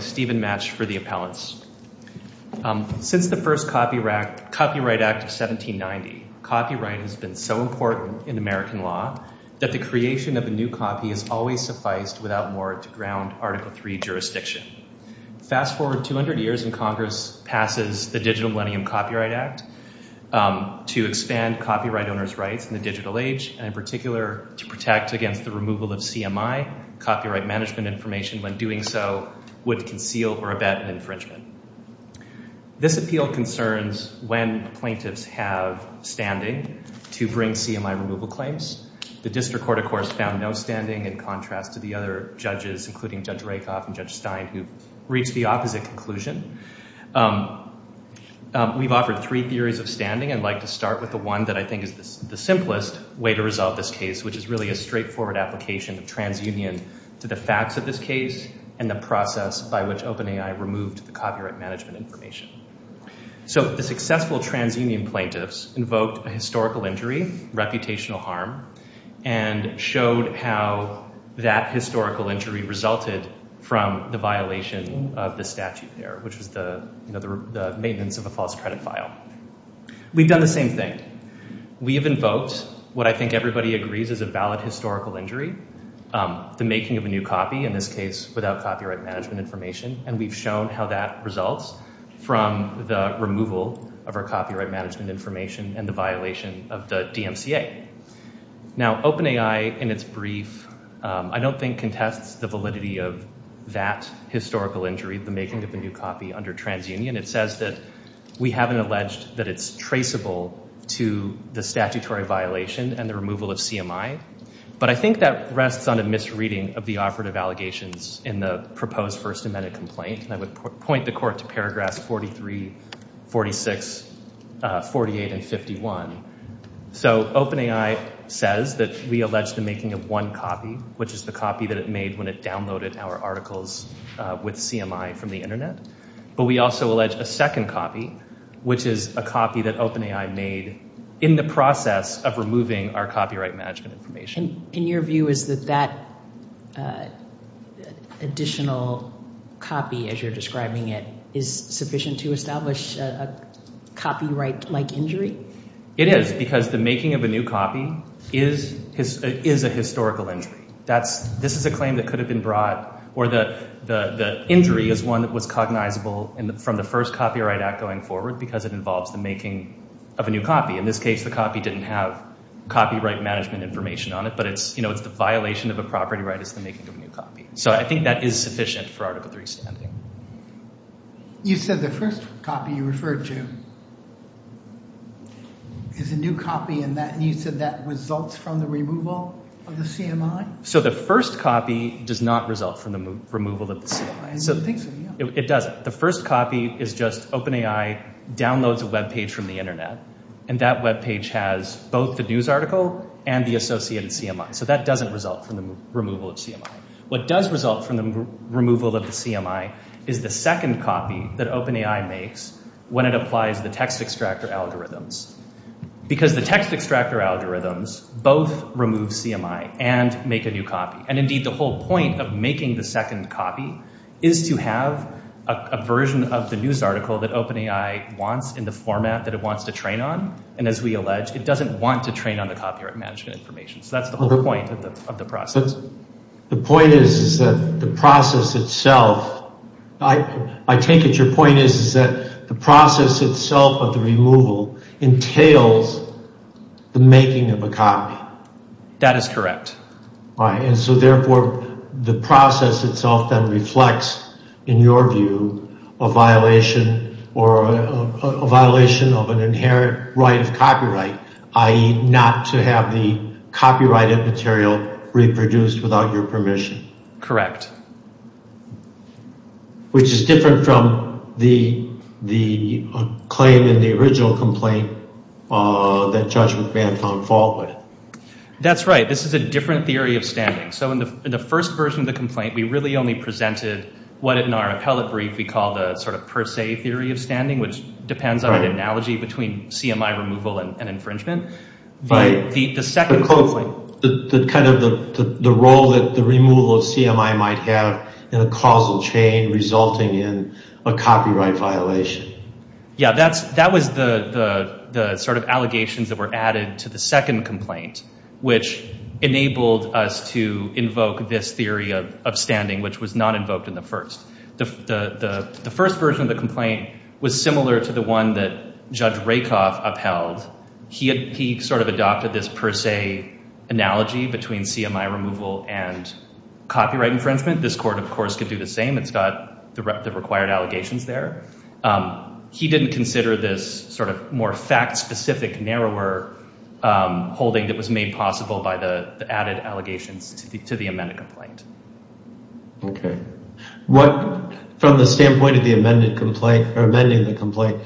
Stephen Match for the appellants. Since the first copyright infringement act of 1790, copyright has been so important in American law that the creation of a new copy has always sufficed without more to ground Article III jurisdiction. Fast forward 200 years and Congress passes the Digital Millennium Copyright Act to expand copyright owners' rights in the digital age and in particular to protect against the removal of CMI, copyright management information, when doing so would conceal or abet an infringement. This appeal concerns when plaintiffs have standing to bring CMI removal claims. The District Court, of course, found no standing in contrast to the other judges, including Judge Rakoff and Judge Stein, who reached the opposite conclusion. We've offered three theories of standing. I'd like to start with the one that I think is the simplest way to resolve this case, which is really a straightforward application of transunion to the facts of this case and the process by which OpenAI removed the copyright management information. So the successful transunion plaintiffs invoked a historical injury, reputational harm, and showed how that historical injury resulted from the violation of the statute there, which was the maintenance of a false credit file. We've done the same thing. We've invoked what I think everybody agrees is a valid historical injury, the making of a new copy, in this case without copyright management information, and we've shown how that results from the removal of our copyright management information and the violation of the DMCA. Now, OpenAI, in its brief, I don't think contests the validity of that historical injury, the making of a new copy under transunion. It says that we haven't alleged that it's traceable to the statutory violation and the removal of CMI, but I think that rests on a misreading of the operative allegations in the proposed First Amendment complaint, and I would point the court to paragraphs 43, 46, 48, and 51. So OpenAI says that we allege the making of one copy, which is the copy that it made when it downloaded our articles with CMI from the internet, but we also allege a second copy, which is a copy that OpenAI made in the process of removing our copyright management information. And your view is that that additional copy, as you're describing it, is sufficient to establish a copyright-like injury? It is, because the making of a new copy is a historical injury. This is a claim that could have been brought, or the injury is one that was cognizable from the first copyright act going forward, because it involves the making of a new copy. In this case, the copy didn't have copyright management information on it, but it's, you know, it's the violation of a property right is the making of a new copy. So I think that is sufficient for Article III standing. You said the first copy you referred to is a new copy, and you said that results from the removal of the CMI? So the first copy does not result from the removal of the CMI. I didn't think so, yeah. It doesn't. The first copy is just OpenAI downloads a web page from the internet, and that web page has both the news article and the associated CMI. So that doesn't result from the removal of CMI. What does result from the removal of the CMI is the second copy that OpenAI makes when it applies the text extractor algorithms, because the text extractor algorithms both remove CMI and make a new copy. And indeed, the whole point of making the second copy is to have a version of the news article that OpenAI wants in the format that it wants to train on. And as we allege, it doesn't want to train on the copyright management information. So that's the whole point of the process. The point is that the process itself, I take it your point is that the process itself of the removal entails the making of a copy. That is correct. Right. And so therefore, the process itself then reflects, in your view, a violation or a violation of an inherent right of copyright, i.e. not to have the copyrighted material reproduced without your permission. Correct. Which is different from the claim in the original complaint that Judge McMahon found fault with. That's right. This is a different theory of standing. So in the first version of the complaint, we really only presented what in our appellate brief we call the sort of per se theory of standing, which depends on an analogy between CMI removal and infringement. But the second... But closely, the kind of the role that the removal of CMI might have in a causal chain resulting in a copyright violation. Yeah, that was the sort of allegations that were added to the second complaint, which enabled us to invoke this theory of standing, which was not invoked in the first. The first version of the complaint was similar to the one that Judge Rakoff upheld. He sort of adopted this per se analogy between CMI removal and copyright infringement. This court, of course, could do the same. It's got the required allegations there. He didn't consider this sort of more fact-specific, narrower holding that was made possible by the added allegations to the amended complaint. Okay. From the standpoint of the amended complaint or amending the complaint,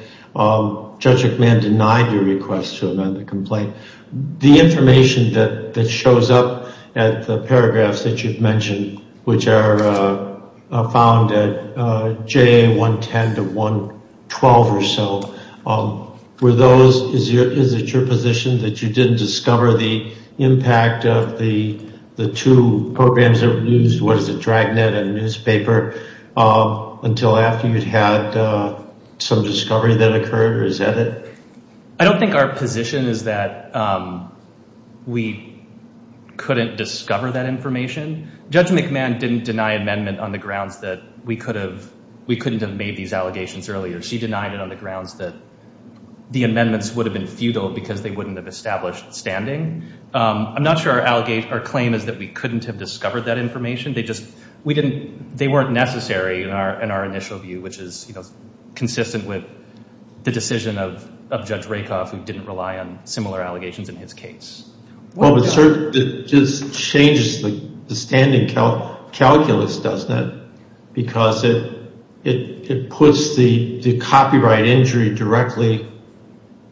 Judge McMahon denied your request to amend the complaint. The information that shows up at the paragraphs that you've mentioned, which are found at JA 110 to 112 or so, is it your position that you didn't discover the impact of the two programs that were used, what is it, Dragnet and Newspaper, until after you'd had some discovery that occurred, or is that it? I don't think our position is that we couldn't discover that information. Judge McMahon didn't deny amendment on the grounds that we couldn't have made these allegations earlier. She denied it on the grounds that the amendments would have been futile because they wouldn't have established standing. I'm not sure our claim is that we couldn't have discovered that information. They weren't necessary in our initial view, which is consistent with the decision of Judge Rakoff, who didn't rely on similar allegations in his case. Well, it just changes the standing calculus, doesn't it? Because it puts the copyright injury directly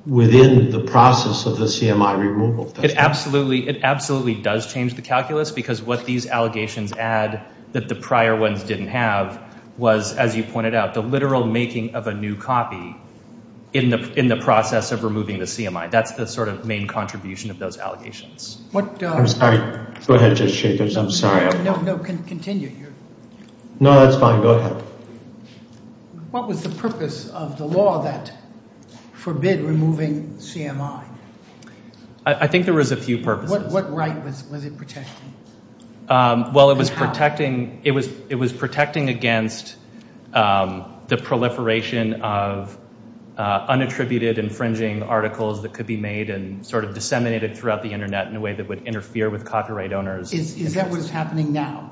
within the process of the CMI removal. It absolutely does change the calculus because what these allegations add that the prior ones didn't have was, as you pointed out, the literal making of a new copy in the process of removing the CMI. That's the sort of main contribution of those allegations. I'm sorry. Go ahead, Judge Jacobs. I'm sorry. No, continue. No, that's fine. Go ahead. What was the purpose of the law that forbid removing CMI? I think there was a few purposes. What right was it protecting? Well, it was protecting against the proliferation of unattributed, infringing articles that could be made and sort of disseminated throughout the internet in a way that would interfere with copyright owners. Is that what's happening now?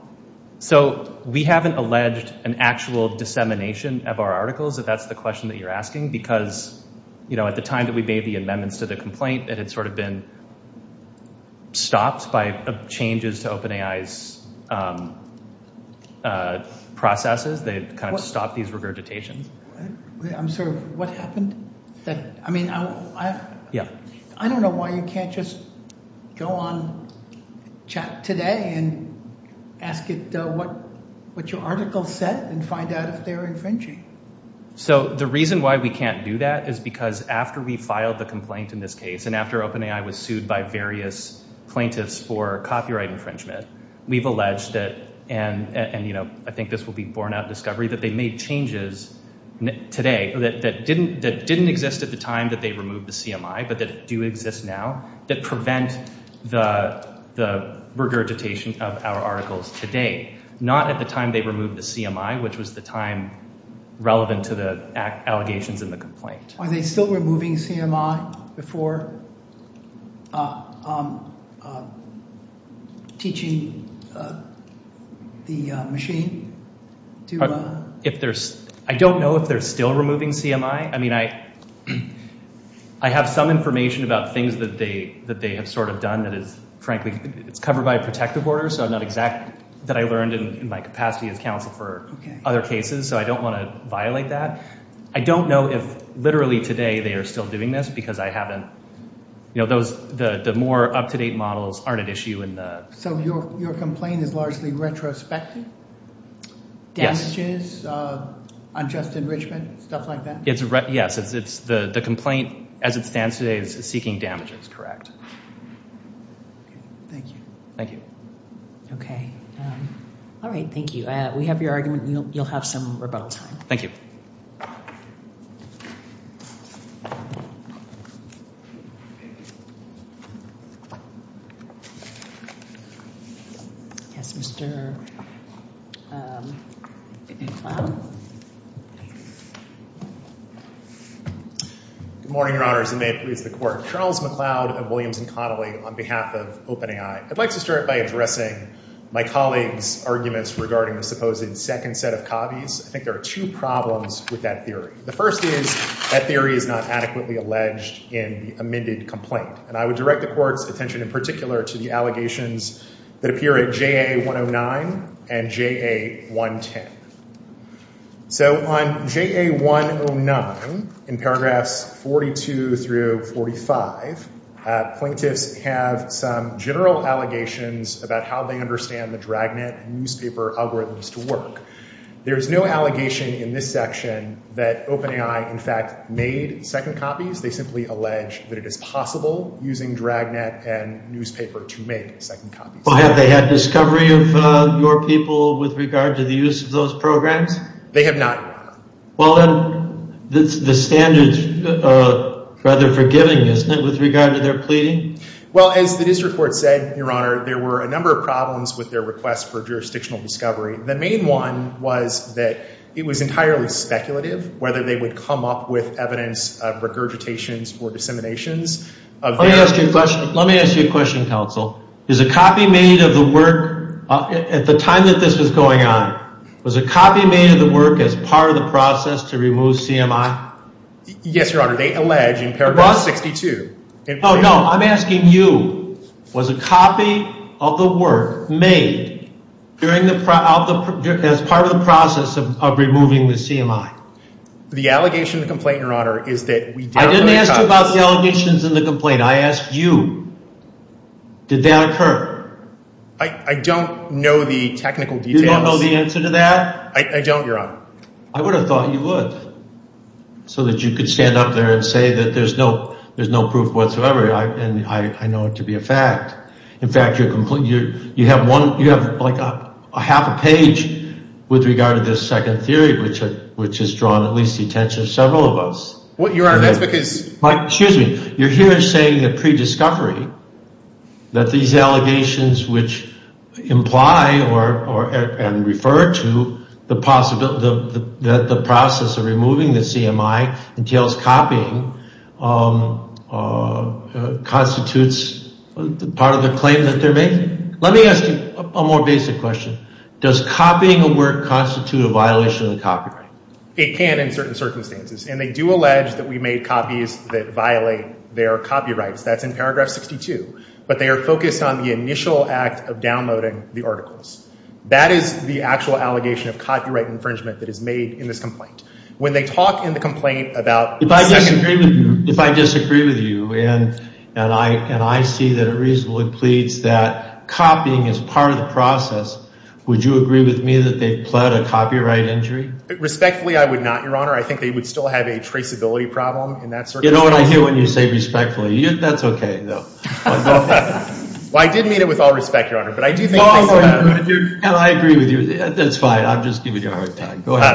So we haven't alleged an actual dissemination of our articles, if that's the question that you're asking, because at the time that we made the amendments to the complaint, it had sort of been stopped by changes to OpenAI's processes. They kind of stopped these regurgitations. I'm sorry. What happened? I mean, I don't know why you can't just go on chat today and ask it what your article said and find out if they're infringing. So the reason why we can't do that is because after we filed the complaint in this case and after OpenAI was sued by various plaintiffs for copyright infringement, we've alleged and I think this will be borne out in discovery, that they made changes today that didn't exist at the time that they removed the CMI, but that do exist now that prevent the regurgitation of our articles today, not at the time they removed the CMI, which was the time relevant to the allegations in the complaint. Are they still removing CMI before teaching the machine? I don't know if they're still removing CMI. I mean, I have some information about things that they have sort of done that is, frankly, it's covered by a protective order. So I'm not exact that I learned in my capacity as counsel for other cases. So I don't want to violate that. I don't know if literally today they are still doing this because I haven't. You know, the more up-to-date models aren't an issue in the... So your complaint is largely retrospective? Damages, unjust enrichment, stuff like that? Yes, the complaint as it stands today is seeking damages, correct. Thank you. Thank you. Okay. All right, thank you. We have your argument. You'll have some rebuttal time. Thank you. Yes, Mr. McLeod. Good morning, Your Honors, and may it please the Court. Charles McLeod of Williams & Connolly on behalf of OpenAI. I'd like to start by addressing my colleague's arguments regarding the supposed second set of copies. I think there are two problems with that theory. The first is that theory is not adequately alleged in the amended complaint. And I would direct the Court's attention in particular to the allegations that appear at JA 109 and JA 110. So on JA 109 in paragraphs 42 through 45, plaintiffs have some general allegations about how they understand the dragnet newspaper algorithms to work. There is no allegation in this section that OpenAI, in fact, made second copies. They simply allege that it is possible using dragnet and newspaper to make second copies. Well, have they had discovery of your people with regard to the use of those programs? They have not, Your Honor. Well, then the standard's rather forgiving, isn't it, with regard to their pleading? Well, as the district court said, Your Honor, there were a number of problems with their request for jurisdictional discovery. The main one was that it was entirely speculative whether they would come up with evidence of regurgitations or disseminations of their own. Let me ask you a question, counsel. Is a copy made of the work at the time that this was going on, was a copy made of the work as part of the process to remove CMI? Yes, Your Honor. They allege in paragraph 62. Oh, no. I'm asking you, was a copy of the work made as part of the process of removing the CMI? The allegation in the complaint, Your Honor, is that we did not make a copy. I didn't ask you about the allegations in the complaint. I asked you, did that occur? I don't know the technical details. You don't know the answer to that? I don't, Your Honor. I would have thought you would, so that you could stand up there and say that there's no proof whatsoever, and I know it to be a fact. In fact, you have like a half a page with regard to this second theory, which has drawn at least the attention of several of us. What, Your Honor, that's because... Mike, excuse me. You're here saying that prediscovery, that these allegations which imply and refer to the process of removing the CMI entails copying, constitutes part of the claim that they're making? Let me ask you a more basic question. Does copying a work constitute a violation of the copyright? It can in certain circumstances, and they do allege that we made copies that violate their copyrights. That's in paragraph 62, but they are focused on the initial act of downloading the articles. That is the actual allegation of copyright infringement that is made in this complaint. When they talk in the complaint about... If I disagree with you, and I see that it reasonably pleads that copying is part of the process, would you agree with me that they've pled a copyright injury? Respectfully, I would not, Your Honor. I think they would still have a traceability problem in that circumstance. You know what I hear when you say respectfully. That's okay, though. Well, I did mean it with all respect, Your Honor, but I do think... And I agree with you. That's fine. I'm just giving you a hard time. Go ahead.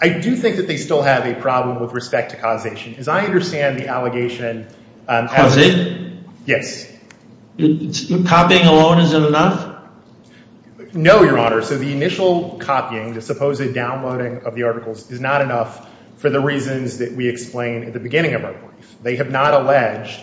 I do think that they still have a problem with respect to causation. As I understand the allegation... Cause it? Yes. Copying alone isn't enough? No, Your Honor. So the initial copying, the supposed downloading of the articles is not enough for the reasons that we explained at the beginning of our brief. They have not alleged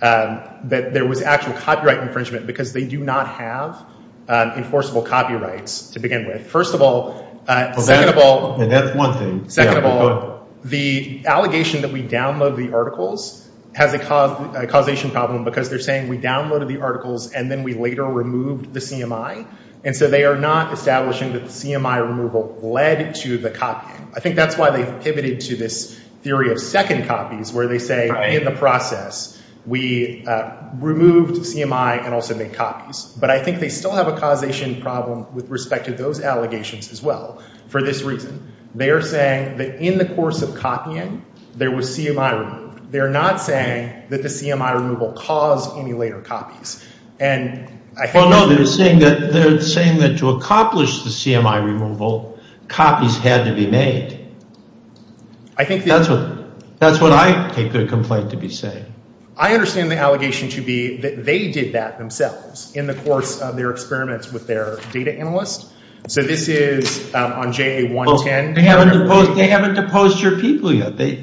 that there was actual copyright infringement because they do not have enforceable copyrights to begin with. First of all, second of all... And that's one thing. Second of all, the allegation that we download the articles has a causation problem because they're saying we downloaded the articles and then we later removed the CMI. And so they are not establishing that the CMI removal led to the copying. I think that's why they've pivoted to this theory of second copies where they say in the process we removed CMI and also made copies. But I think they still have a causation problem with respect to those allegations as well. For this reason, they are saying that in the course of copying, there was CMI removed. They're not saying that the CMI removal caused any later copies. And I think... Well, no, they're saying that to accomplish the CMI removal, copies had to be made. I think that's what I take their complaint to be saying. I understand the allegation to be that they did that themselves in the course of their experiments with their data analysts. So this is on JA-110. They haven't deposed your people yet. This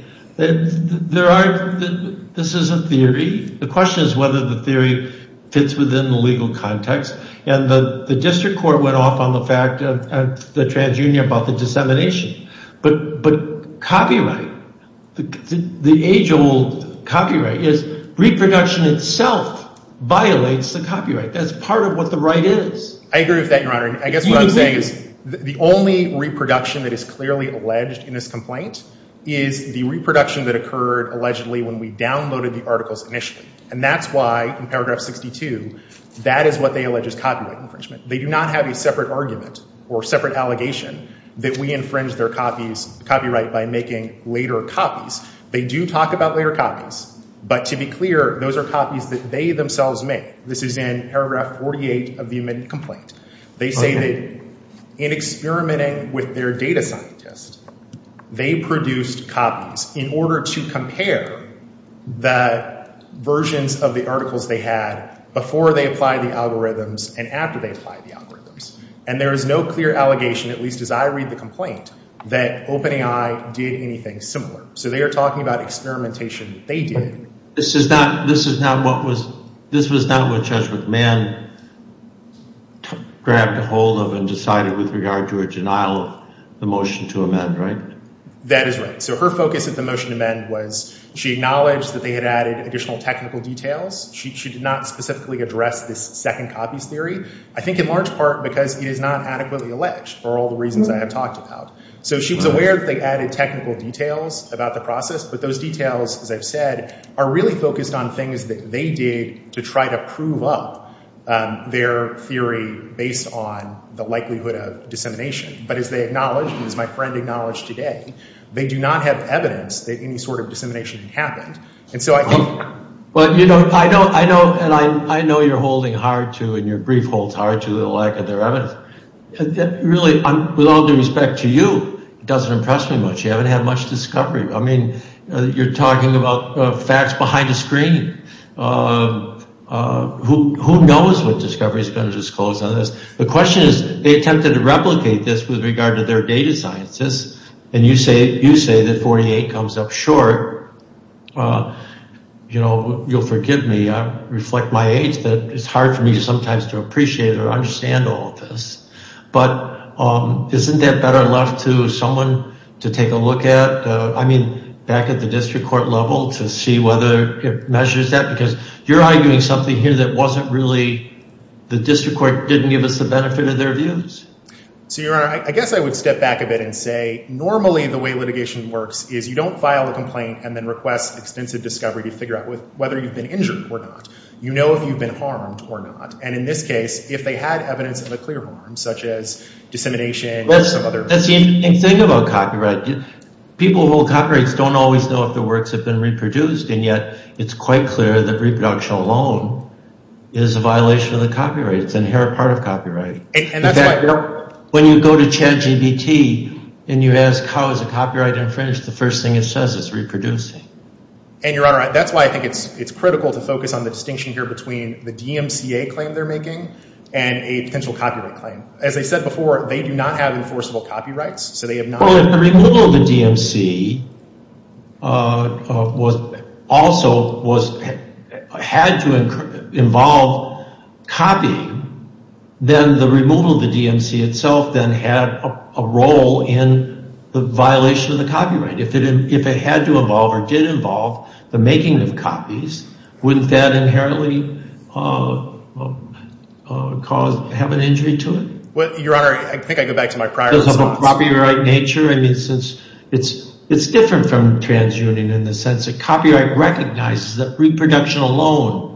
is a theory. The question is whether the theory fits within the legal context. And the district court went off on the fact of the transunion about the dissemination. But copyright, the age-old copyright, is reproduction itself violates the copyright. That's part of what the right is. I agree with that, Your Honor. I guess what I'm saying is the only reproduction that is clearly alleged in this complaint is the reproduction that occurred allegedly when we downloaded the articles initially. And that's why in paragraph 62, that is what they allege is copyright infringement. They do not have a separate argument or separate allegation that we infringe their copyright by making later copies. They do talk about later copies. But to be clear, those are copies that they themselves make. This is in paragraph 48 of the immediate complaint. They say that in experimenting with their data scientists, they produced copies in order to compare the versions of the articles they had before they applied the algorithms and after they applied the algorithms. And there is no clear allegation, at least as I read the complaint, that OpenAI did anything similar. So they are talking about experimentation. They did. This is not what Judge McMahon grabbed ahold of and decided with regard to a denial of the motion to amend, right? That is right. So her focus of the motion to amend was she acknowledged that they had added additional technical details. She did not specifically address this second copies theory. I think in large part because it is not adequately alleged for all the reasons I have talked about. So she was aware that they added technical details about the process. But those details, as I've said, are really focused on things that they did to try to prove up their theory based on the likelihood of dissemination. But as they acknowledged and as my friend acknowledged today, they do not have evidence that any sort of dissemination happened. And so I think... Well, you know, I know you are holding hard to and your brief holds hard to the lack of their evidence. Really, with all due respect to you, it does not impress me much. You have not had much discovery. I mean, you are talking about facts behind a screen. Who knows what discovery is going to disclose on this? The question is they attempted to replicate this with regard to their data sciences. And you say that 48 comes up short. You know, you'll forgive me. I reflect my age that it's hard for me sometimes to appreciate or understand all of this. But isn't that better left to someone to take a look at? I mean, back at the district court level to see whether it measures that. Because you're arguing something here that wasn't really... The district court didn't give us the benefit of their views. So, Your Honor, I guess I would step back a bit and say normally the way litigation works is you don't file a complaint and then request extensive discovery to figure out whether you've been injured or not. You know if you've been harmed or not. And in this case, if they had evidence of a clear harm, such as dissemination and some other... That's the interesting thing. Think about copyright. People who hold copyrights don't always know if the works have been reproduced. And yet it's quite clear that reproduction alone is a violation of the copyright. It's an inherent part of copyright. And that's why when you go to Chad GBT and you ask how is a copyright infringed, the first thing it says is reproducing. And Your Honor, that's why I think it's critical to focus on the distinction here between the DMCA claim they're making and a potential copyright claim. As I said before, they do not have enforceable copyrights. So they have not... If the removal of the DMC also had to involve copying, then the removal of the DMC itself then had a role in the violation of the copyright. If it had to involve or did involve the making of copies, wouldn't that inherently have an injury to it? Well, Your Honor, I think I go back to my prior response. Because of a copyright nature, I mean, since it's different from transunion in the sense that copyright recognizes that reproduction alone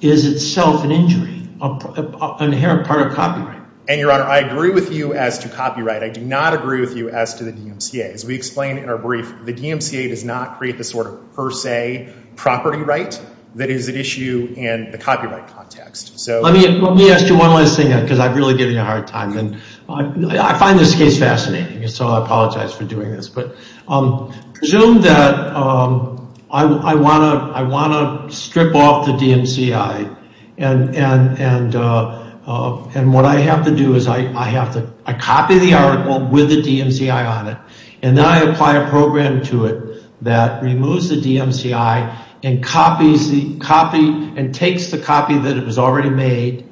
is itself an injury, an inherent part of copyright. And Your Honor, I agree with you as to copyright. I do not agree with you as to the DMCA. As we explained in our brief, the DMCA does not create the sort of per se property right that is at issue in the copyright context. Let me ask you one last thing, because I'm really giving you a hard time. I find this case fascinating, so I apologize for doing this. But presume that I want to strip off the DMCI, and what I have to do is I copy the article with the DMCI on it. And then I apply a program to it that removes the DMCI and takes the copy that it was already made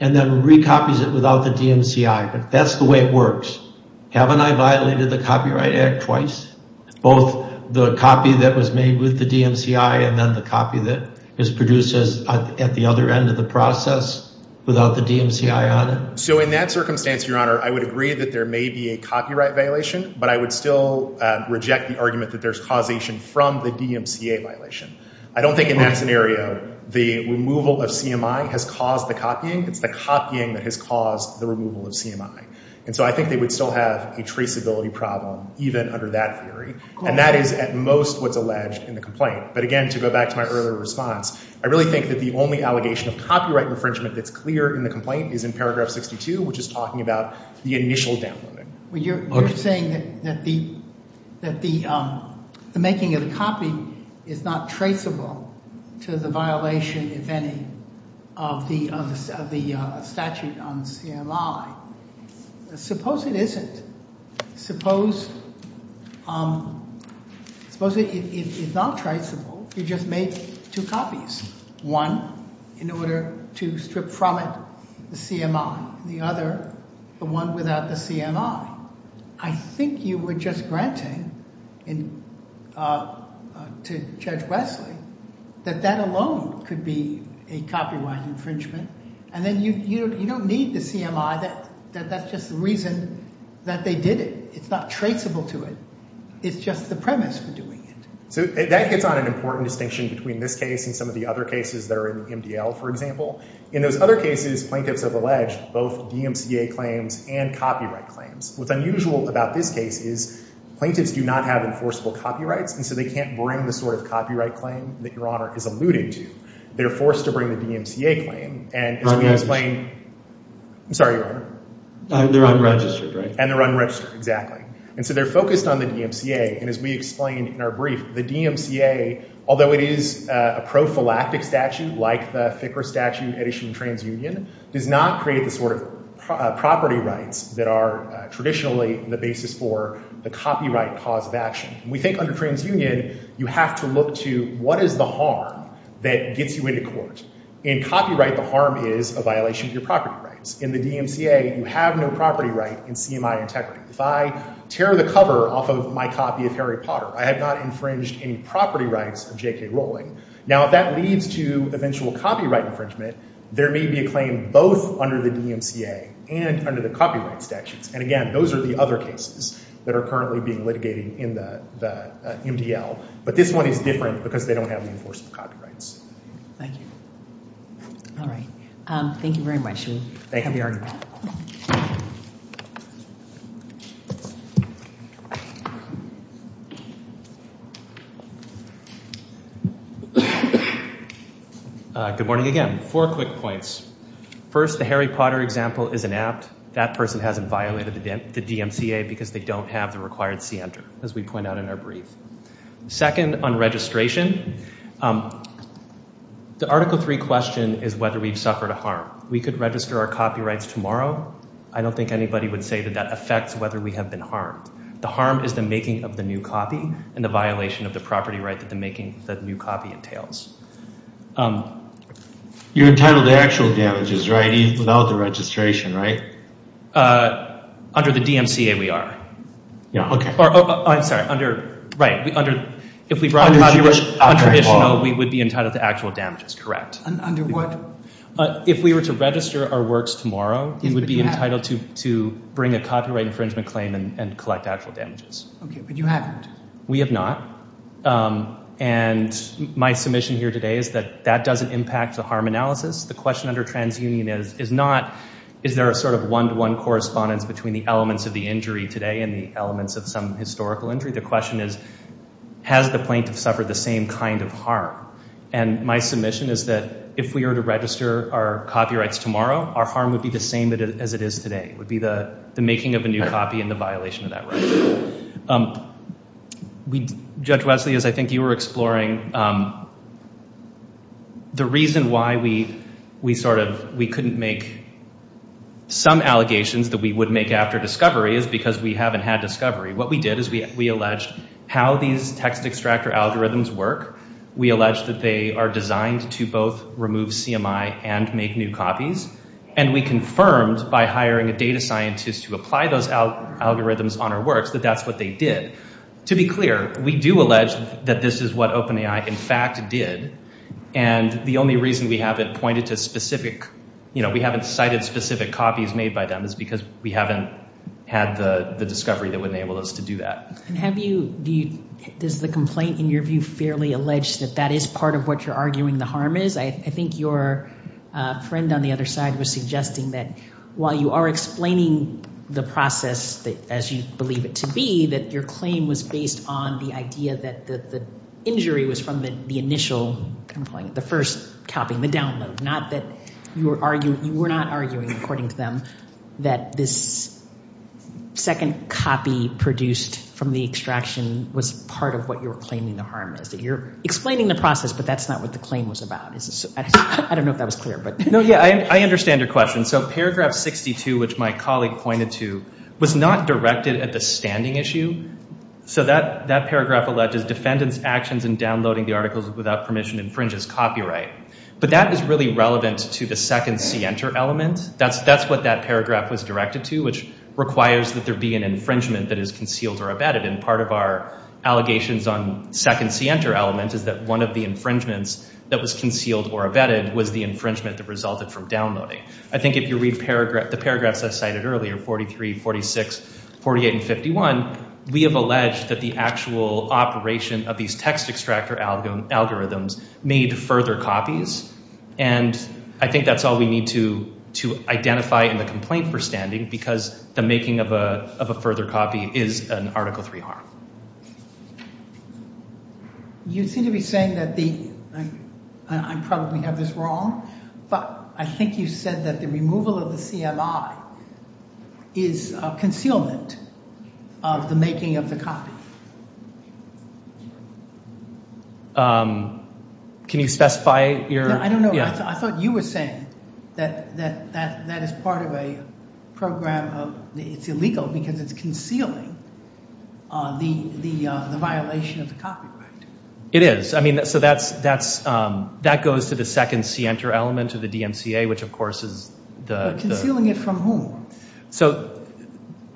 and then recopies it without the DMCI. But that's the way it works. Haven't I violated the Copyright Act twice, both the copy that was made with the DMCI and then the copy that is produced at the other end of the process without the DMCI on it? So in that circumstance, Your Honor, I would agree that there may be a copyright violation, but I would still reject the argument that there's causation from the DMCA violation. I don't think in that scenario the removal of CMI has caused the copying. It's the copying that has caused the removal of CMI. And so I think they would still have a traceability problem, even under that theory. And that is at most what's alleged in the complaint. But again, to go back to my earlier response, I really think that the only allegation of copyright infringement that's clear in the complaint is in paragraph 62, which is talking about the initial downloading. When you're saying that the making of the copy is not traceable to the violation, if any, of the statute on CMI, suppose it isn't. Suppose it is not traceable. You just make two copies, one in order to strip from it the CMI, the other, the one without the CMI. I think you were just granting to Judge Wesley that that alone could be a copyright infringement. And then you don't need the CMI, that's just the reason that they did it. It's not traceable to it. It's just the premise for doing it. So that hits on an important distinction between this case and some of the other cases that are in MDL, for example. In those other cases, plaintiffs have alleged both DMCA claims and copyright claims. What's unusual about this case is plaintiffs do not have enforceable copyrights, and so they can't bring the sort of copyright claim that Your Honor is alluding to. They're forced to bring the DMCA claim. And as we explained, I'm sorry, Your Honor. They're unregistered, right? And they're unregistered, exactly. And so they're focused on the DMCA. And as we explained in our brief, the DMCA, although it is a prophylactic statute like the thicker statute at issue in TransUnion, does not create the sort of property rights that are traditionally the basis for the copyright cause of action. We think under TransUnion, you have to look to what is the harm that gets you into court. In copyright, the harm is a violation of your property rights. In the DMCA, you have no property right in CMI integrity. If I tear the cover off of my copy of Harry Potter, I have not infringed any property rights of J.K. Rowling. Now, if that leads to eventual copyright infringement, there may be a claim both under the DMCA and under the copyright statutes. And again, those are the other cases that are currently being litigated in the MDL. But this one is different because they don't have the enforceable copyrights. Thank you. All right. Thank you very much. Thank you. Good morning again. Four quick points. First, the Harry Potter example is inapt. That person hasn't violated the DMCA because they don't have the required center, as we point out in our brief. Second, on registration, the Article III question is whether we've suffered a harm. We could register our copyrights tomorrow. I don't think anybody would say that that affects whether we have been harmed. The harm is the making of the new copy and the violation of the property right that the making of the new copy entails. You're entitled to actual damages, right? Even without the registration, right? Under the DMCA, we are. Yeah. Okay. Oh, I'm sorry. Under, right. We, under, if we brought it up, we would be entitled to actual damages. Correct. Under what? If we were to register our works tomorrow, we would be entitled to bring a copyright infringement claim and collect actual damages. Okay. But you haven't. We have not. And my submission here today is that that doesn't impact the harm analysis. The question under TransUnion is not, is there a sort of one-to-one correspondence between the elements of the injury today and the elements of some historical injury? The question is, has the plaintiff suffered the same kind of harm? And my submission is that if we were to register our copyrights tomorrow, our harm would be the same as it is today. It would be the making of a new copy and the violation of that right. Judge Wesley, as I think you were exploring, the reason why we sort of, we couldn't make some allegations that we would make after discovery is because we haven't had discovery. What we did is we alleged how these text extractor algorithms work. We alleged that they are designed to both remove CMI and make new copies. And we confirmed by hiring a data scientist to apply those algorithms on our works that that's what they did. To be clear, we do allege that this is what OpenAI in fact did. And the only reason we haven't pointed to specific, you know, we haven't cited specific copies made by them is because we haven't had the discovery that would enable us to do that. And have you, does the complaint in your view fairly allege that that is part of what you're arguing the harm is? I think your friend on the other side was suggesting that while you are explaining the process as you believe it to be, that your claim was based on the idea that the injury was from the initial complaint, the first copy, the download. Not that you were arguing, you were not arguing according to them that this second copy produced from the extraction was part of what you were claiming the harm is. That you're explaining the process, but that's not what the claim was about. I don't know if that was clear, but. No, yeah, I understand your question. So paragraph 62, which my colleague pointed to, was not directed at the standing issue. So that paragraph alleged is defendant's actions in downloading the articles without permission infringes copyright. But that is really relevant to the second see enter element. That's what that paragraph was directed to, which requires that there be an infringement that is concealed or abetted. And part of our allegations on second see enter element is that one of the infringements that was concealed or abetted was the infringement that resulted from downloading. I think if you read the paragraphs I cited earlier, 43, 46, 48, and 51, we have alleged that the actual operation of these text extractor algorithms made further copies. And I think that's all we need to identify in the complaint for standing because the making of a further copy is an article 3 harm. You seem to be saying that the, I probably have this wrong, but I think you said that the removal of the CMI is a concealment of the making of the copy. Can you specify your? I don't know. I thought you were saying that that is part of a program of, it's illegal because it's concealing the violation of the copyright. It is. I mean, so that's, that goes to the second see enter element of the DMCA, which of course is the. Concealing it from whom? So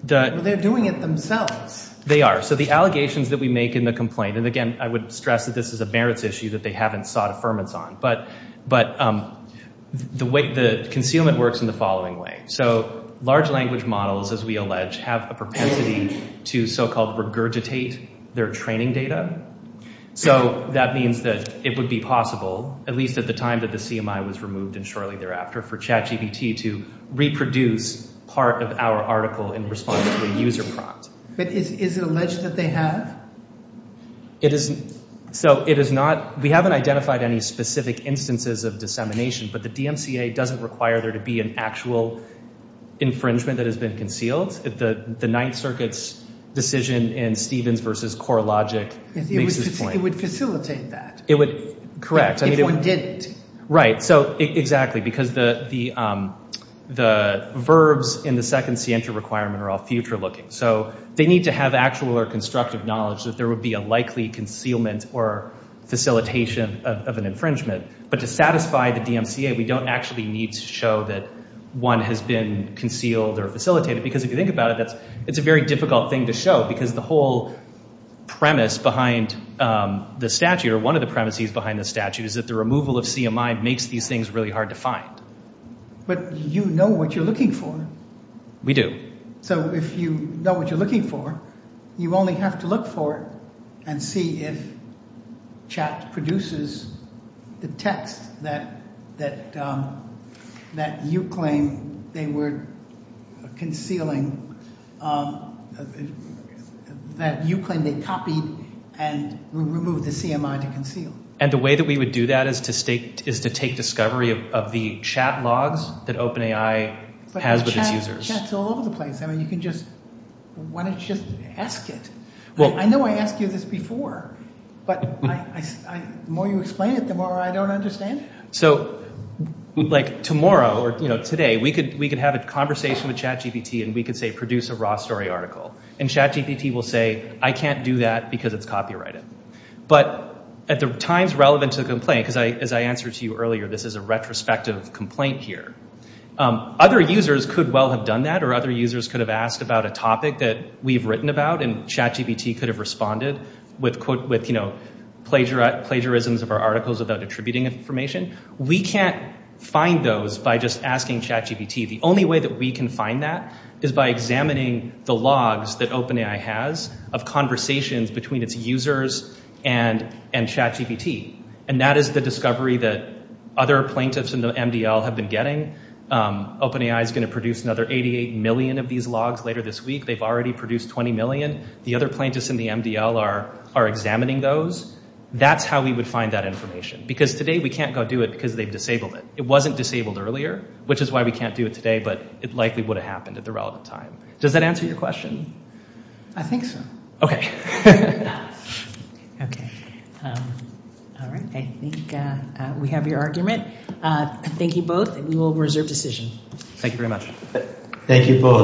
the. They're doing it themselves. They are. So the allegations that we make in the complaint, and again, I would stress that this is a merits on, but, but the way the concealment works in the following way. So large language models, as we allege, have a propensity to so-called regurgitate their training data. So that means that it would be possible, at least at the time that the CMI was removed and shortly thereafter for chat GBT to reproduce part of our article in response to a user prompt. But is it alleged that they have? It isn't. So it is not, we haven't identified any specific instances of dissemination, but the DMCA doesn't require there to be an actual infringement that has been concealed at the ninth circuits decision in Stevens versus core logic. It would facilitate that. It would. Correct. If one didn't. Right. So exactly. Because the, the, the verbs in the second see enter requirement are all future looking. So they need to have actual or constructive knowledge that there would be a likely concealment or facilitation of an infringement, but to satisfy the DMCA, we don't actually need to show that one has been concealed or facilitated. Because if you think about it, that's, it's a very difficult thing to show because the whole premise behind the statute or one of the premises behind the statute is that the removal of CMI makes these things really hard to find. But you know what you're looking for. We do. So if you know what you're looking for, you only have to look for it and see if chat produces the text that, that, um, that you claim they were concealing, um, that you claim they copied and removed the CMI to conceal. And the way that we would do that is to state, is to take discovery of the chat logs that OpenAI has with its users. The chat's all over the place. I mean, you can just, why don't you just ask it? I know I asked you this before, but I, I, I, the more you explain it, the more I don't understand. So like tomorrow or, you know, today we could, we could have a conversation with ChatGPT and we could say, produce a raw story article. And ChatGPT will say, I can't do that because it's copyrighted. But at the times relevant to the complaint, because I, as I answered to you earlier, this is a retrospective complaint here. Other users could well have done that. Or other users could have asked about a topic that we've written about and ChatGPT could have responded with quote, with, you know, plagiarism, plagiarisms of our articles about attributing information. We can't find those by just asking ChatGPT. The only way that we can find that is by examining the logs that OpenAI has of conversations between its users and, and ChatGPT. And that is the discovery that other plaintiffs in the MDL have been getting. OpenAI is going to produce another 88 million of these logs later this week. They've already produced 20 million. The other plaintiffs in the MDL are, are examining those. That's how we would find that information. Because today we can't go do it because they've disabled it. It wasn't disabled earlier, which is why we can't do it today, but it likely would have happened at the relevant time. Does that answer your question? I think so. Okay. Okay. I think we have your argument. Thank you both. We will reserve decision. Thank you very much. Thank you both.